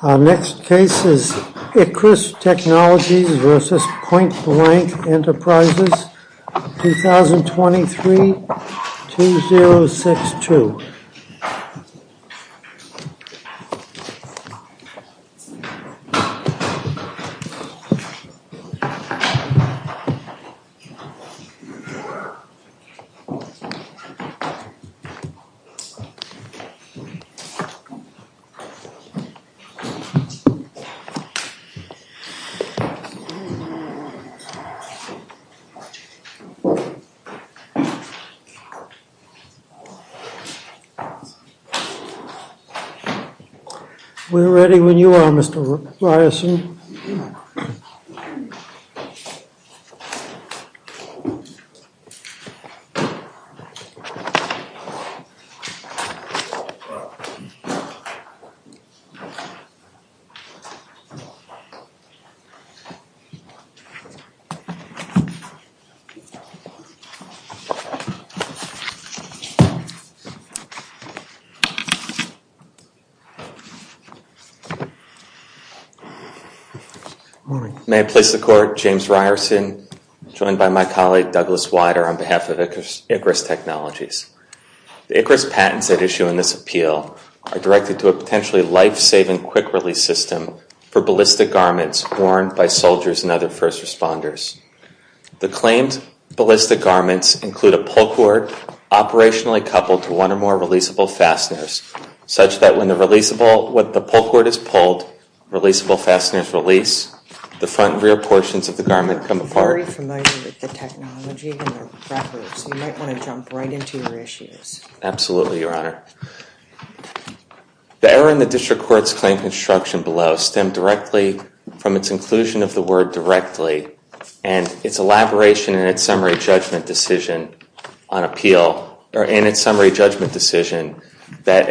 Our next case is ICRIS Technologies v. Point Blank Enterprises, 2023-2062. We're ready when you are, Mr. Ryerson. Thank you, Mr. Ryerson. Good morning. May I please the court, James Ryerson, joined by my colleague, Douglas Weider, on behalf of ICRIS Technologies. The ICRIS patents at issue in this appeal are directed to a potentially life-saving quick-release system for ballistic garments worn by soldiers and other first responders. The claimed ballistic garments include a pull cord operationally coupled to one or more releasable fasteners, such that when the pull cord is pulled, releasable fasteners release, the front and rear portions of the garment come apart. I'm very familiar with the technology and the records. You might want to jump right into your issues. Absolutely, Your Honor. The error in the district court's claim construction below stemmed directly from its inclusion of the word directly and its elaboration in its summary judgment decision on appeal, that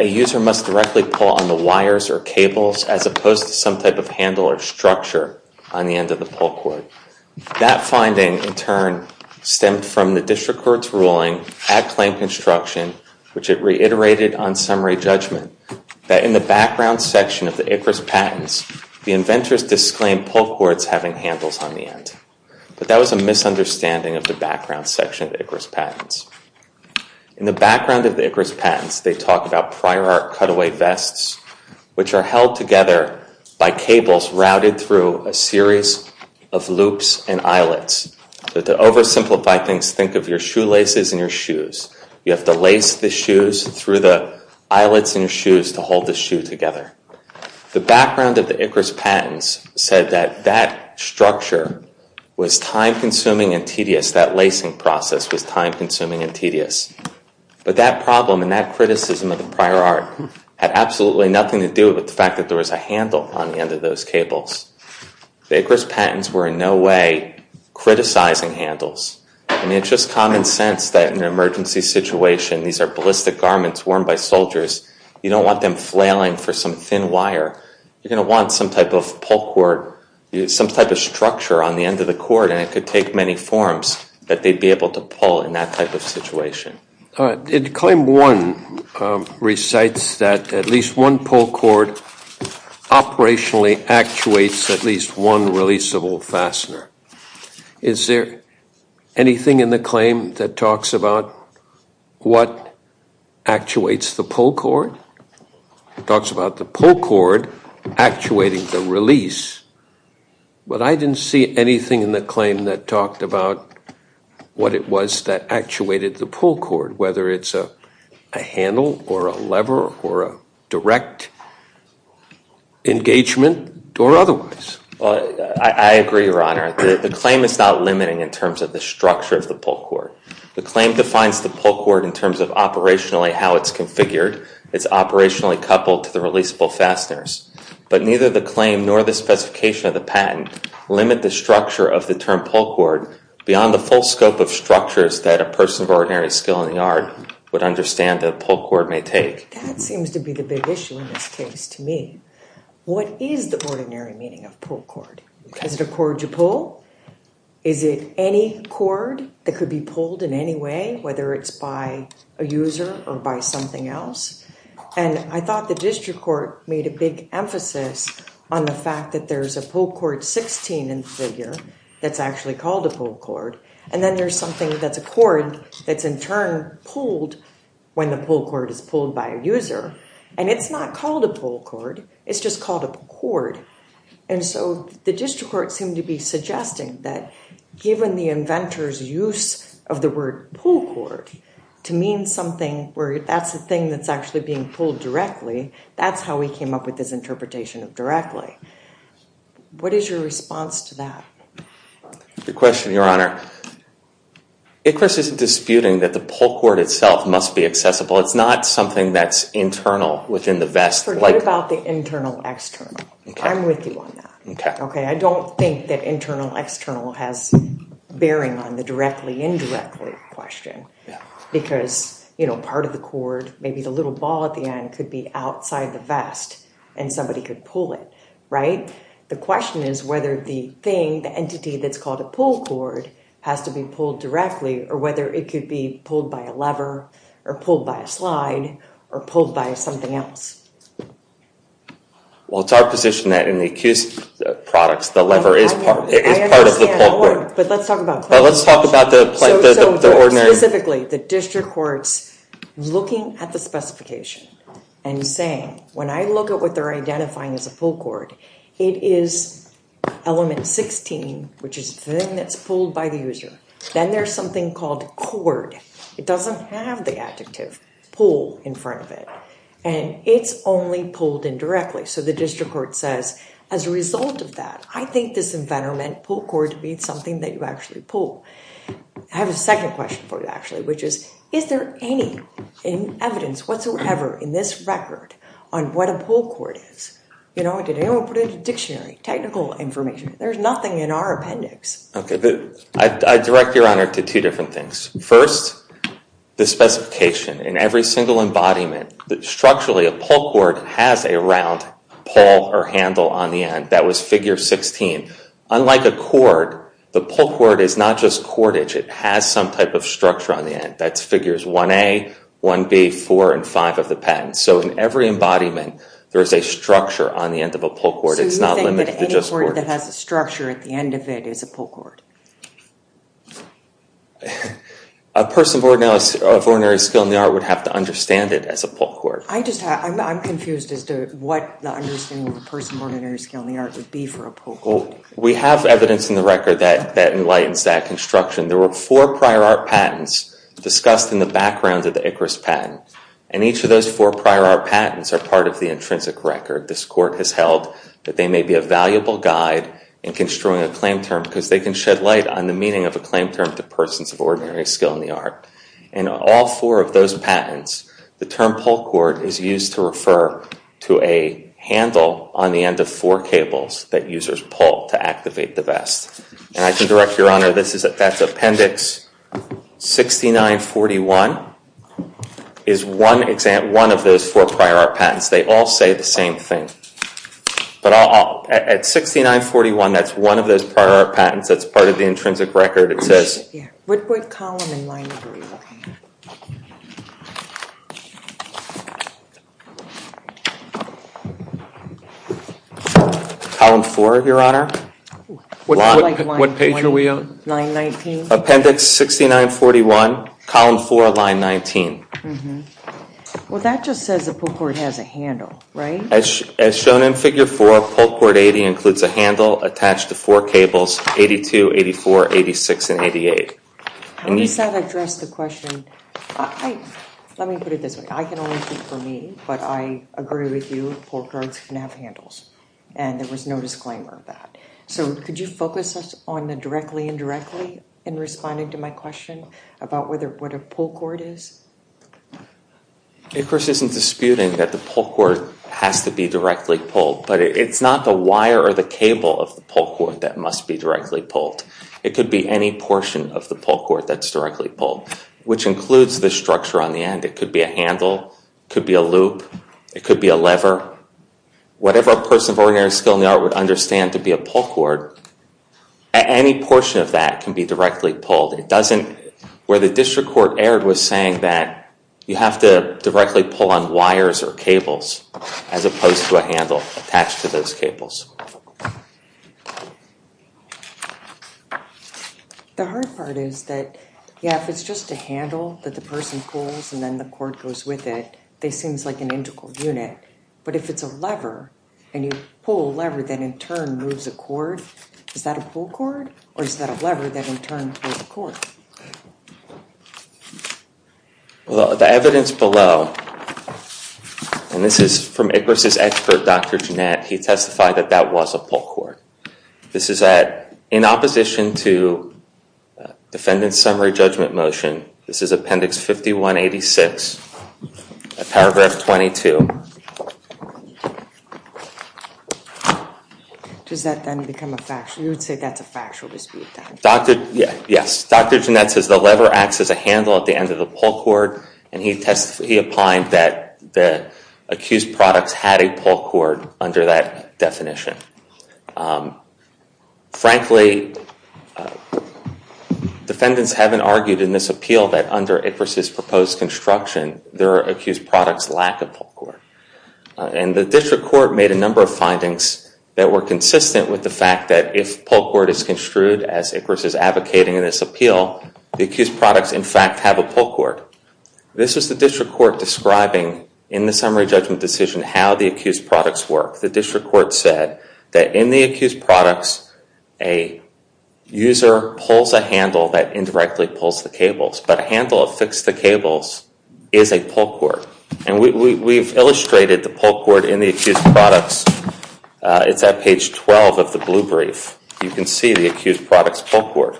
a user must directly pull on the wires or cables as opposed to some type of handle or structure on the end of the pull cord. That finding, in turn, stemmed from the district court's ruling at claim construction, which it reiterated on summary judgment, that in the background section of the ICRIS patents, the inventors disclaimed pull cords having handles on the end. But that was a misunderstanding of the background section of the ICRIS patents. In the background of the ICRIS patents, they talk about prior art cutaway vests, which are held together by cables routed through a series of loops and eyelets. To oversimplify things, think of your shoelaces and your shoes. You have to lace the shoes through the eyelets in your shoes to hold the shoe together. The background of the ICRIS patents said that that structure was time-consuming and tedious. That lacing process was time-consuming and tedious. But that problem and that criticism of the prior art had absolutely nothing to do with the fact that there was a handle on the end of those cables. The ICRIS patents were in no way criticizing handles. It's just common sense that in an emergency situation, these are ballistic garments worn by soldiers. You don't want them flailing for some thin wire. You're going to want some type of pull cord, some type of structure on the end of the cord, and it could take many forms, but they'd be able to pull in that type of situation. Claim one recites that at least one pull cord operationally actuates at least one releasable fastener. Is there anything in the claim that talks about what actuates the pull cord? It talks about the pull cord actuating the release. But I didn't see anything in the claim that talked about what it was that actuated the pull cord, whether it's a handle or a lever or a direct engagement or otherwise. I agree, Your Honor. The claim is not limiting in terms of the structure of the pull cord. The claim defines the pull cord in terms of operationally how it's configured. It's operationally coupled to the releasable fasteners. But neither the claim nor the specification of the patent limit the structure of the term pull cord beyond the full scope of structures that a person of ordinary skill in the art would understand that a pull cord may take. That seems to be the big issue in this case to me. What is the ordinary meaning of pull cord? Is it a cord you pull? Is it any cord that could be pulled in any way, whether it's by a user or by something else? And I thought the district court made a big emphasis on the fact that there's a pull cord 16 in the figure that's actually called a pull cord. And then there's something that's a cord that's in turn pulled when the pull cord is pulled by a user. And it's not called a pull cord. It's just called a cord. And so the district court seemed to be suggesting that given the inventor's use of the word pull cord to mean something where that's the thing that's actually being pulled directly. That's how we came up with this interpretation of directly. What is your response to that? Good question, Your Honor. ICRIS isn't disputing that the pull cord itself must be accessible. It's not something that's internal within the vest. Forget about the internal external. I'm with you on that. OK. I don't think that internal external has bearing on the directly indirectly question. Because part of the cord, maybe the little ball at the end, could be outside the vest and somebody could pull it. Right? The question is whether the thing, the entity that's called a pull cord, has to be pulled directly or whether it could be pulled by a lever or pulled by a slide or pulled by something else. Well, it's our position that in the accused products, the lever is part of the pull cord. But let's talk about the ordinary. Specifically, the district courts looking at the specification and saying, when I look at what they're identifying as a pull cord, it is element 16, which is the thing that's pulled by the user. Then there's something called cord. It doesn't have the adjective pull in front of it. And it's only pulled indirectly. So the district court says, as a result of that, I think this inventor meant pull cord to be something that you actually pull. I have a second question for you, actually, which is, is there any evidence whatsoever in this record on what a pull cord is? Did anyone put it in a dictionary, technical information? There's nothing in our appendix. OK. I direct Your Honor to two different things. First, the specification. In every single embodiment, structurally, a pull cord has a round pull or handle on the end. That was figure 16. Unlike a cord, the pull cord is not just cordage. It has some type of structure on the end. That's figures 1A, 1B, 4, and 5 of the patent. So in every embodiment, there is a structure on the end of a pull cord. It's not limited to just cordage. A pull cord that has a structure at the end of it is a pull cord. A person born now of ordinary skill in the art would have to understand it as a pull cord. I just have, I'm confused as to what the understanding of a person of ordinary skill in the art would be for a pull cord. We have evidence in the record that enlightens that construction. There were four prior art patents discussed in the background of the Icarus patent. And each of those four prior art patents are part of the intrinsic record. This court has held that they may be a valuable guide in construing a claim term because they can shed light on the meaning of a claim term to persons of ordinary skill in the art. In all four of those patents, the term pull cord is used to refer to a handle on the end of four cables that users pull to activate the vest. And I can direct your honor, that's Appendix 6941, is one of those four prior art patents. They all say the same thing. But at 6941, that's one of those prior art patents that's part of the intrinsic record. Column four, your honor. What page are we on? 919. Appendix 6941, column four, line 19. Well, that just says a pull cord has a handle, right? As shown in figure four, pull cord 80 includes a handle attached to four cables, 82, 84, 86, and 88. How does that address the question? Let me put it this way. I can only think for me, but I agree with you. Pull cords can have handles. And there was no disclaimer of that. So could you focus us on the directly and indirectly in responding to my question about what a pull cord is? It, of course, isn't disputing that the pull cord has to be directly pulled. But it's not the wire or the cable of the pull cord that must be directly pulled. It could be any portion of the pull cord that's directly pulled, which includes the structure on the end. It could be a handle. It could be a loop. It could be a lever. Whatever a person of ordinary skill in the art would understand to be a pull cord, any portion of that can be directly pulled. Where the district court erred was saying that you have to directly pull on wires or cables as opposed to a handle attached to those cables. The hard part is that, yeah, if it's just a handle that the person pulls and then the cord goes with it, this seems like an integral unit. But if it's a lever and you pull a lever, that in turn moves a cord, is that a pull cord? Or is that a lever that in turn pulls a cord? Well, the evidence below, and this is from Icarus's expert, Dr. Jeanette, he testified that that was a pull cord. This is in opposition to defendant's summary judgment motion. This is appendix 5186, paragraph 22. Does that then become a factual? You would say that's a factual dispute? Yes. Dr. Jeanette says the lever acts as a handle at the end of the pull cord. And he opined that the accused products had a pull cord under that definition. Frankly, defendants haven't argued in this appeal that under Icarus's proposed construction, there are accused products lack of pull cord. And the district court made a number of findings that were consistent with the fact that if pull cord is construed, as Icarus is advocating in this appeal, the accused products, in fact, have a pull cord. This is the district court describing in the summary judgment decision how the accused products work. The district court said that in the accused products, a user pulls a handle that indirectly pulls the cables. But a handle affixed to cables is a pull cord. And we've illustrated the pull cord in the accused products It's at page 12 of the blue brief. You can see the accused products pull cord.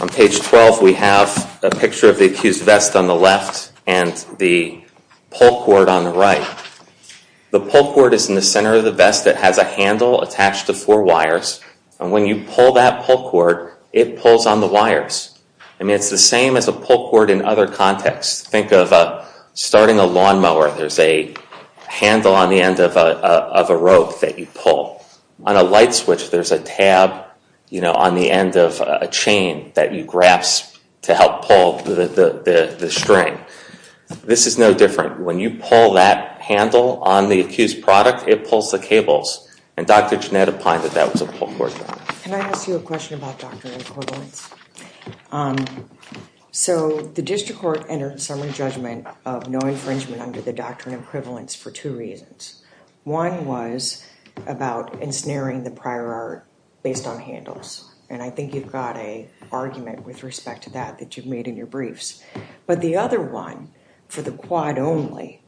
On page 12, we have a picture of the accused vest on the left and the pull cord on the right. The pull cord is in the center of the vest. It has a handle attached to four wires. And when you pull that pull cord, it pulls on the wires. And it's the same as a pull cord in other contexts. Think of starting a lawnmower. There's a handle on the end of a rope that you pull. On a light switch, there's a tab on the end of a chain that you grasp to help pull the string. This is no different. When you pull that handle on the accused product, it pulls the cables. And Dr. Jeanette opined that that was a pull cord. Can I ask you a question about Dr. Incorvelance? So the district court entered a summary judgment of no infringement under the doctrine of equivalence for two reasons. One was about ensnaring the prior art based on handles. And I think you've got a argument with respect to that that you've made in your briefs. But the other one, for the quad only,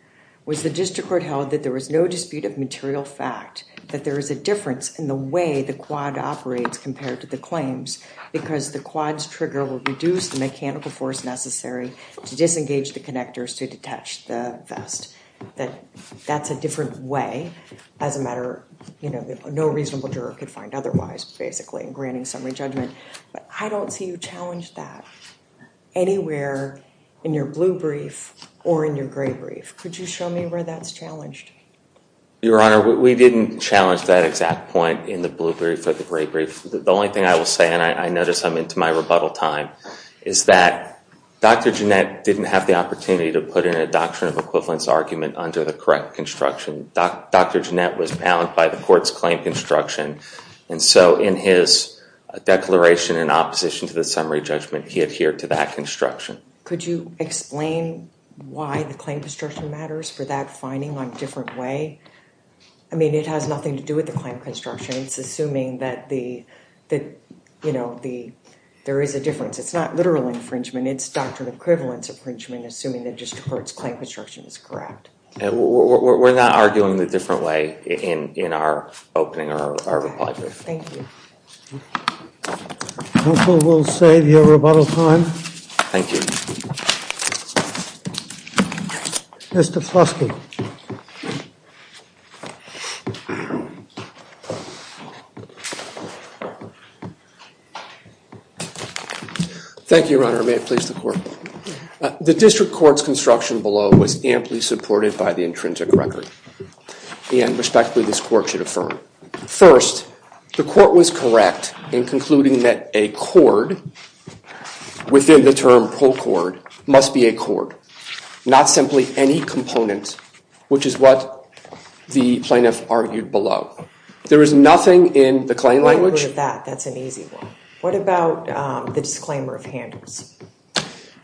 was the district court held that there was no dispute of material fact, that there is a difference in the way the quad operates compared to the claims, because the quad's trigger will reduce the mechanical force necessary to disengage the connectors to detach the vest. That's a different way as a matter that no reasonable juror could find otherwise, basically, in granting summary judgment. But I don't see you challenge that anywhere in your blue brief or in your gray brief. Could you show me where that's challenged? Your Honor, we didn't challenge that exact point in the blue brief or the gray brief. The only thing I will say, and I notice I'm into my rebuttal time, is that Dr. Gennett didn't have the opportunity to put in a doctrine of equivalence argument under the correct construction. Dr. Gennett was bound by the court's claim construction. And so in his declaration in opposition to the summary judgment, he adhered to that construction. Could you explain why the claim construction matters for that finding in a different way? I mean, it has nothing to do with the claim construction. It's assuming that there is a difference. It's not literal infringement. It's doctrine of equivalence infringement, assuming that just the court's claim construction is correct. We're not arguing the different way in our opening or our reply brief. Thank you. Counsel will save your rebuttal time. Thank you. Mr. Flosky. Thank you, Your Honor. May it please the court. The district court's construction below was amply supported by the intrinsic record. And respectfully, this court should affirm. First, the court was correct in concluding that a cord within the term pro-cord must be a cord, not simply any component, which is what the plaintiff argued below. There is nothing in the claim language. I agree with that. That's an easy one. What about the disclaimer of handles?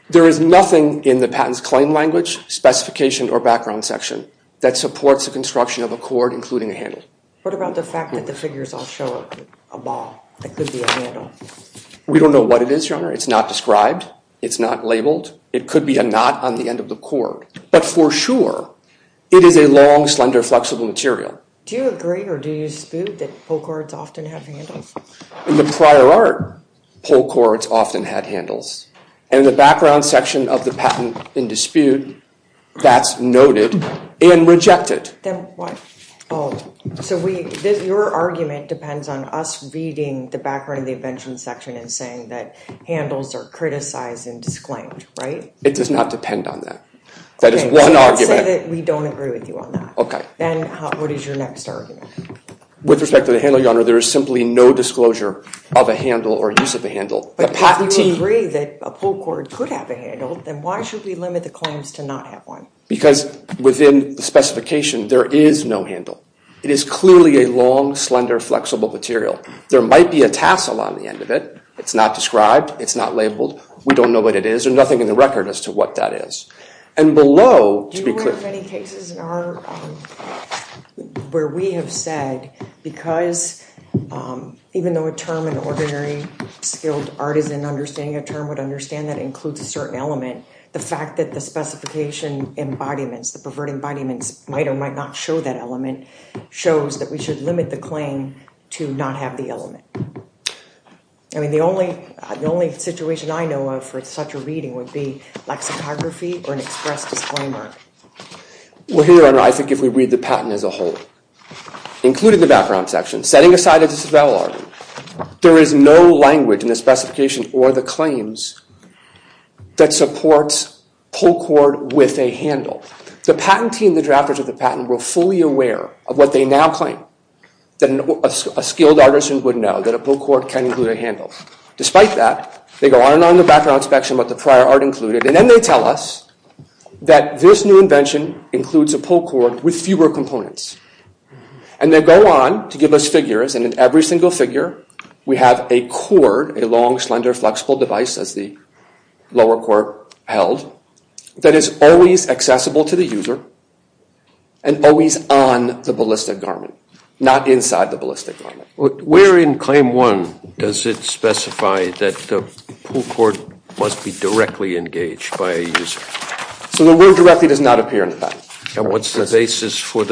There is nothing in the patent's claim language, specification, or background section that supports the construction of a cord, including a handle. What about the fact that the figures all show a ball that could be a handle? We don't know what it is, Your Honor. It's not described. It's not labeled. It could be a knot on the end of the cord. But for sure, it is a long, slender, flexible material. Do you agree or do you dispute that pro-cords often have handles? In the prior art, pro-cords often had handles. In the background section of the patent in dispute, that's noted and rejected. Then what? Oh, so your argument depends on us reading the background of the invention section and saying that handles are criticized and disclaimed, right? It does not depend on that. That is one argument. Let's say that we don't agree with you on that. OK. Then what is your next argument? With respect to the handle, Your Honor, there is simply no disclosure of a handle or use of a handle. But if we agree that a pro-cord could have a handle, then why should we limit the claims to not have one? Because within the specification, there is no handle. It is clearly a long, slender, flexible material. There might be a tassel on the end of it. It's not described. It's not labeled. We don't know what it is. There's nothing in the record as to what that is. And below, to be clear. There are many cases where we have said, because even though a term in ordinary skilled art is an understanding, a term would understand that includes a certain element, the fact that the specification embodiments, the pervert embodiments, might or might not show that element shows that we should limit the claim to not have the element. I mean, the only situation I know of for such a reading would be lexicography or an express disclaimer. Well, here, I think if we read the patent as a whole, including the background section, setting aside a disavowal argument, there is no language in the specification or the claims that supports pro-cord with a handle. The patent team, the drafters of the patent, were fully aware of what they now claim that a skilled artisan would know, that a pro-cord can include a handle. Despite that, they go on and on in the background inspection with the prior art included. And then they tell us that this new invention includes a pro-cord with fewer components. And they go on to give us figures. And in every single figure, we have a cord, a long, slender, flexible device, as the lower court held, that is always accessible to the user and always on the ballistic garment, not inside the ballistic garment. Where in claim one does it specify that the pro-cord must be directly engaged by a user. So the word directly does not appear in the patent. And what's the basis for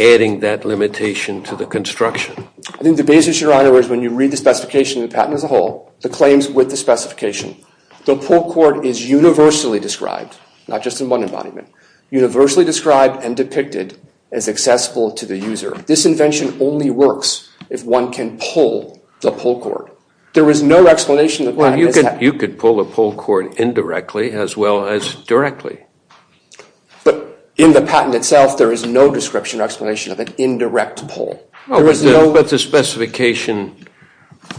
adding that limitation to the construction? I think the basis, Your Honor, is when you read the specification, the patent as a whole, the claims with the specification, the pro-cord is universally described, not just in one embodiment, universally described and depicted as accessible to the user. This invention only works if one can pull the pro-cord. There was no explanation of that. You could pull the pro-cord indirectly as well as directly. But in the patent itself, there is no description or explanation of an indirect pull. But the specification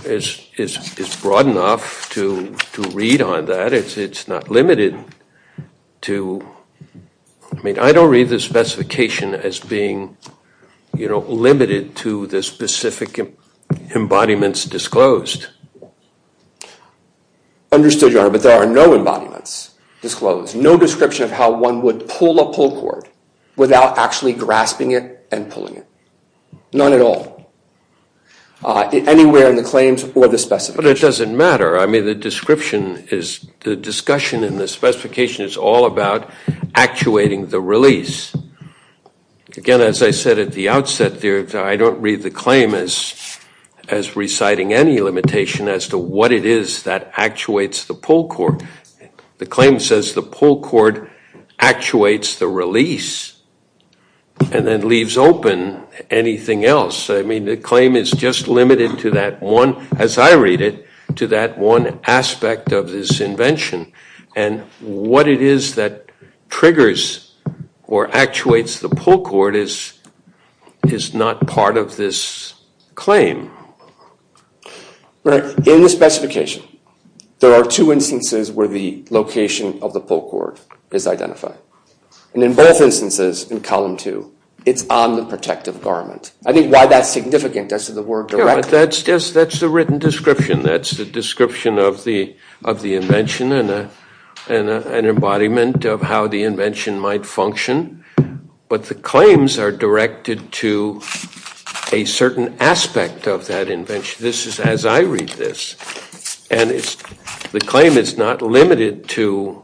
is broad enough to read on that. It's not limited to, I mean, I don't read the specification as being limited to the specific embodiments disclosed. Understood, Your Honor. But there are no embodiments disclosed. No description of how one would pull a pro-cord without actually grasping it and pulling it. None at all. Anywhere in the claims or the specification. But it doesn't matter. I mean, the description is, the discussion and the specification is all about actuating the release. Again, as I said at the outset there, I don't read the claim as reciting any limitation as to what it is that actuates the pull cord. The claim says the pull cord actuates the release and then leaves open anything else. I mean, the claim is just limited to that one, as I read it, to that one aspect of this invention. And what it is that triggers or actuates the pull cord is not part of this claim. Right. In the specification, there are two instances where the location of the pull cord is identified. And in both instances, in column two, it's on the protective garment. I think why that's significant as to the word direct. That's the written description. That's the description of the invention and an embodiment of how the invention might function. But the claims are directed to a certain aspect of that invention. This is as I read this. And the claim is not limited to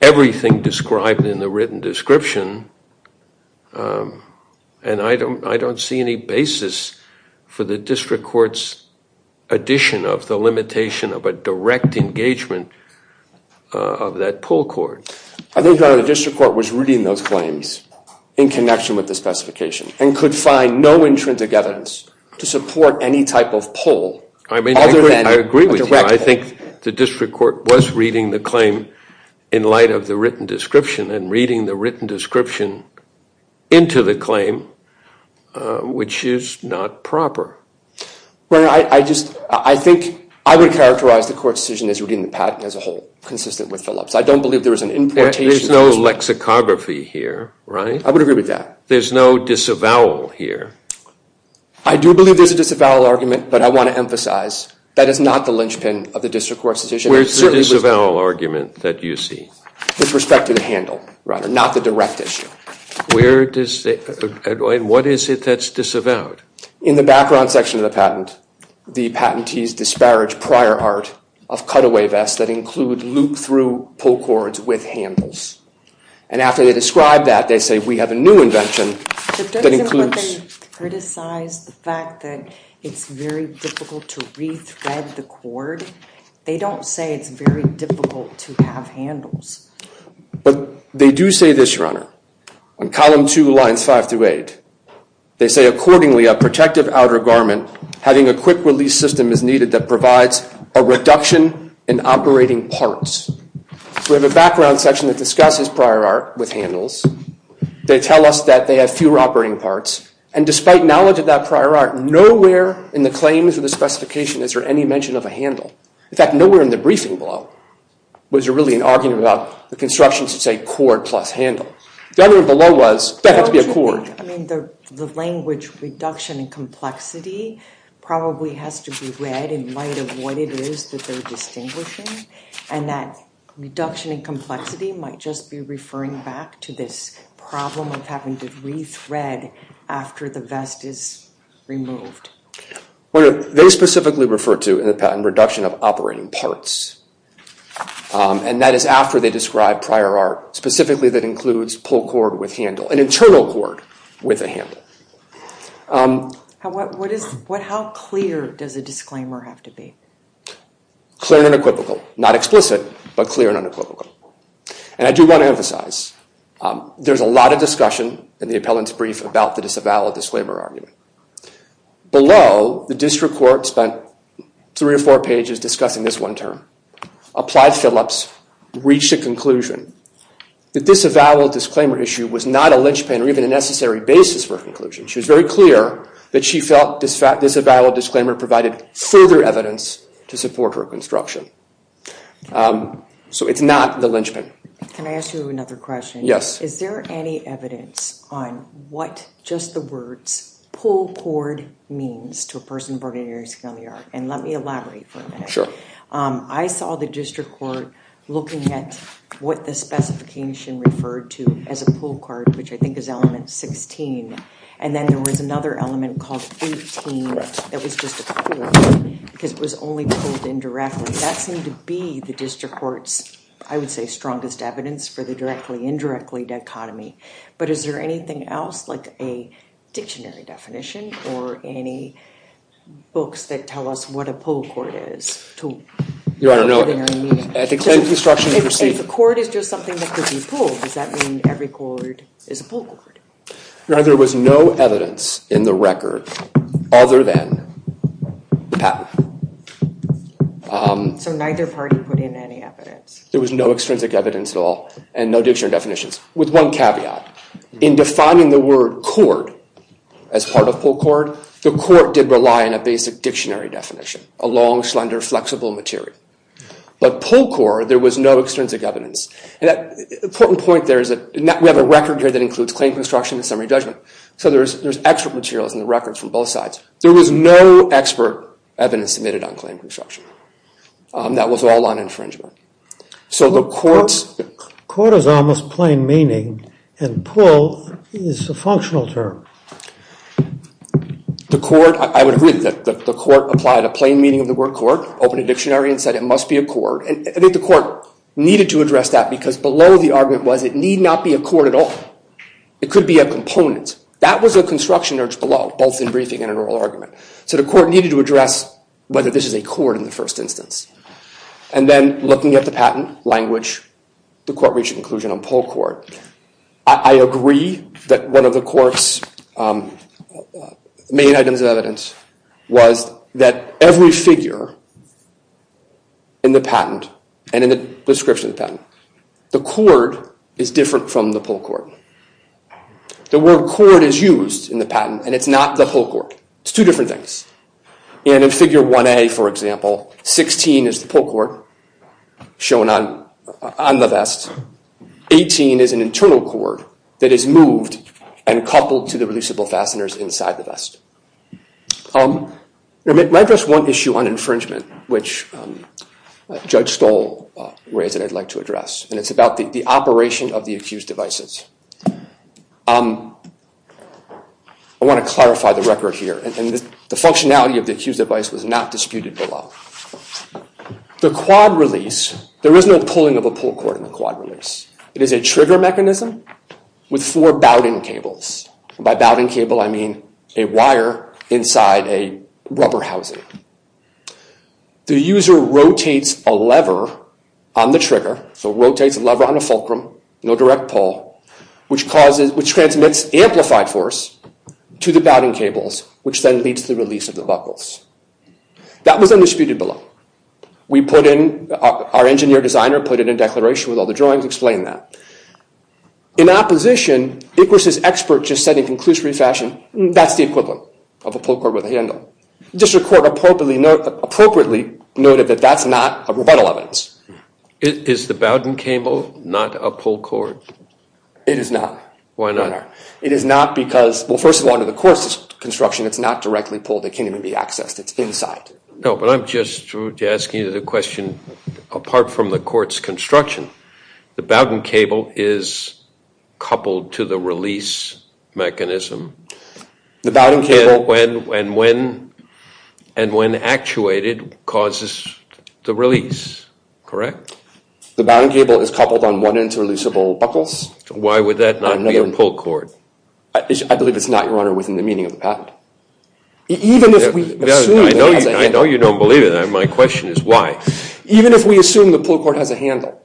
everything described in the written description. And I don't see any basis for the district court's addition of the limitation of a direct engagement of that pull cord. I think the district court was reading those claims in connection with the specification and could find no intrinsic evidence to support any type of pull other than a direct one. I agree with you. I think the district court was reading the claim in light of the written description. And reading the written description into the claim, which is not proper. I think I would characterize the court's decision as reading the patent as a whole, consistent with Phillips. I don't believe there was an importation. There's no lexicography here, right? I would agree with that. There's no disavowal here. I do believe there's a disavowal argument. But I want to emphasize that is not the linchpin of the district court's decision. Where's the disavowal argument that you see? With respect to the handle, rather. Not the direct issue. And what is it that's disavowed? In the background section of the patent, the patentees disparage prior art of cutaway vests that include loop-through pull cords with handles. And after they describe that, they say, we have a new invention that includes. But doesn't what they criticize the fact that it's very difficult to re-thread the cord? They don't say it's very difficult to have handles. But they do say this, Your Honor. On column 2, lines 5 through 8, they say, accordingly, a protective outer garment having a quick-release system is needed that provides a reduction in operating parts. We have a background section that discusses prior art with handles. They tell us that they have fewer operating parts. And despite knowledge of that prior art, nowhere in the claims or the specification is there any mention of a handle. In fact, nowhere in the briefing below was there really an argument about the construction to say cord plus handle. The argument below was, that had to be a cord. I mean, the language reduction in complexity probably has to be read in light of what it is that they're distinguishing. And that reduction in complexity might just be referring back to this problem of having to re-thread after the vest is removed. They specifically refer to a reduction of operating parts. And that is after they describe prior art, specifically that includes pull cord with handle, an internal cord with a handle. How clear does a disclaimer have to be? Clear and equivocal. Not explicit, but clear and unequivocal. And I do want to emphasize, there's a lot of discussion in the appellant's brief about the disavowal disclaimer argument. Below, the district court spent three or four pages discussing this one term. Applied Phillips reached a conclusion. The disavowal disclaimer issue was not a linchpin or even a necessary basis for a conclusion. She was very clear that she felt disavowal disclaimer provided further evidence to support her construction. So it's not the linchpin. Can I ask you another question? Yes. Is there any evidence on what just the words pull cord means to a person born in Erie County, New York? And let me elaborate for a minute. I saw the district court looking at what the specification referred to as a pull cord, which I think is element 16. And then there was another element called 18 that was just a pull, because it was only pulled indirectly. That seemed to be the district court's, I would say, strongest evidence for the directly-indirectly dichotomy. But is there anything else, like a dictionary definition or any books that tell us what a pull cord is? If a cord is just something that could be pulled, does that mean every cord is a pull cord? No, there was no evidence in the record other than the patent. So neither party put in any evidence? There was no extrinsic evidence at all and no dictionary definitions. With one caveat. In defining the word cord as part of pull cord, the court did rely on a basic dictionary definition, a long, slender, flexible material. But pull cord, there was no extrinsic evidence. An important point there is that we have a record here that includes claim construction and summary judgment. So there's expert materials in the records from both sides. There was no expert evidence submitted on claim construction. That was all on infringement. So the court's- Cord is almost plain meaning and pull is a functional term. The court, I would agree that the court applied a plain meaning of the word cord, opened a dictionary and said it must be a cord. And I think the court needed to address that because below the argument was it need not be a cord at all. It could be a component. That was a construction urge below, both in briefing and an oral argument. So the court needed to address whether this is a cord in the first instance. And then looking at the patent language, the court reached an inclusion on pull cord. I agree that one of the court's main items of evidence was that every figure in the patent and in the description of the patent, the cord is different from the pull cord. The word cord is used in the patent and it's not the pull cord. It's two different things. And in Figure 1A, for example, 16 is the pull cord shown on the vest. 18 is an internal cord that is moved and coupled to the releasable fasteners inside the vest. Let me address one issue on infringement, which Judge Stoll raised and I'd like to address. And it's about the operation of the accused devices. I want to clarify the record here. And the functionality of the accused device was not disputed below. The quad release, there is no pulling of a pull cord in the quad release. It is a trigger mechanism with four bowding cables. By bowding cable, I mean a wire inside a rubber housing. The user rotates a lever on the trigger, so rotates a lever on a fulcrum, no direct pull, which transmits amplified force to the bowding cables, which then leads to the release of the buckles. That was undisputed below. We put in, our engineer designer put it in declaration with all the drawings, explained that. In opposition, Iqus' expert just said in conclusive fashion, that's the equivalent of a pull cord with a handle. District Court appropriately noted that that's not a rebuttal evidence. Is the bowding cable not a pull cord? It is not. Why not? It is not because, well, first of all, under the court's construction, it's not directly pulled. It can't even be accessed. It's inside. No, but I'm just asking you the question, apart from the court's construction, the bowding cable is coupled to the release mechanism. And when actuated, causes the release, correct? The bowding cable is coupled on one end to releasable buckles. Why would that not be a pull cord? I believe it's not, Your Honor, within the meaning of the patent. I know you don't believe it. My question is why? Even if we assume the pull cord has a handle,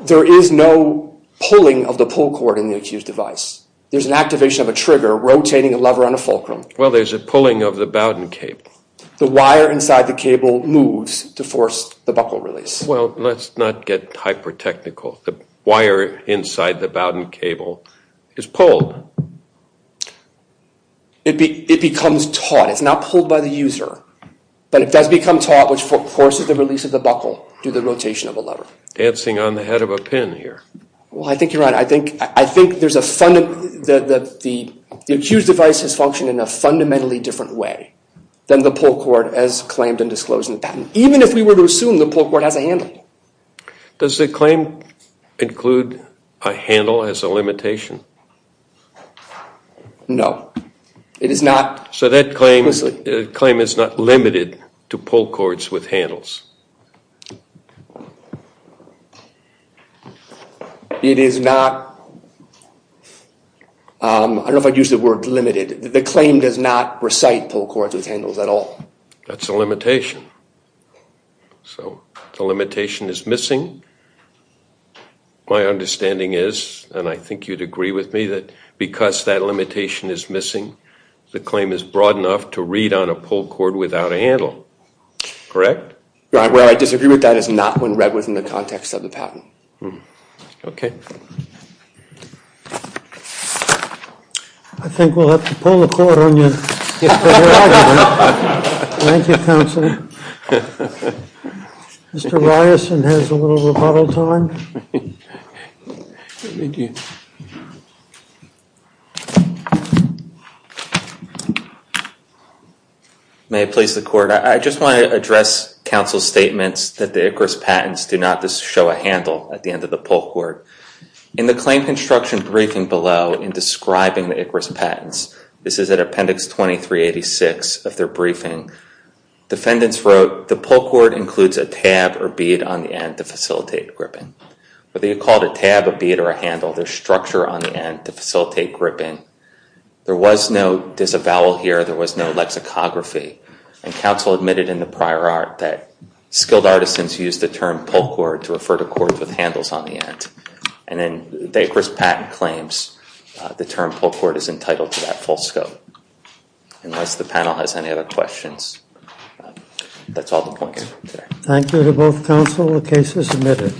there is no pulling of the pull cord in the Iqus device. There's an activation of a trigger rotating a lever on a fulcrum. Well, there's a pulling of the bowding cable. The wire inside the cable moves to force the buckle release. Well, let's not get hyper-technical. The wire inside the bowding cable is pulled. It becomes taut. It's not pulled by the user, but it does become taut, which forces the release of the buckle through the rotation of a lever. Dancing on the head of a pin here. Well, I think you're right. I think the Iqus device has functioned in a fundamentally different way than the pull cord as claimed and disclosed in the patent, even if we were to assume the pull cord has a handle. Does the claim include a handle as a limitation? No. It is not. So that claim is not limited to pull cords with handles. It is not. I don't know if I'd use the word limited. The claim does not recite pull cords with handles at all. That's a limitation. So the limitation is missing. My understanding is, and I think you'd agree with me, that because that limitation is missing, the claim is broad enough to read on a pull cord without a handle. Correct? Where I disagree with that is not when read within the context of the patent. Okay. I think we'll have to pull the cord on you. Thank you, Counselor. Mr. Ryerson has a little rebuttal time. Thank you. May it please the Court, I just want to address Counsel's statements that the Iqus patents do not show a handle at the end of the pull cord. In the claim construction briefing below in describing the Iqus patents, this is at Appendix 2386 of their briefing, defendants wrote, the pull cord includes a tab or bead on the end to facilitate gripping. Whether you call it a tab, a bead, or a handle, there's structure on the end to facilitate gripping. There was no disavowal here. There was no lexicography. And Counsel admitted in the prior art that skilled artisans used the term pull cord to refer to cords with handles on the end. And then the Iqus patent claims the term pull cord is entitled to that full scope. Unless the panel has any other questions, that's all the points for today. Thank you to both Counsel. The case is admitted.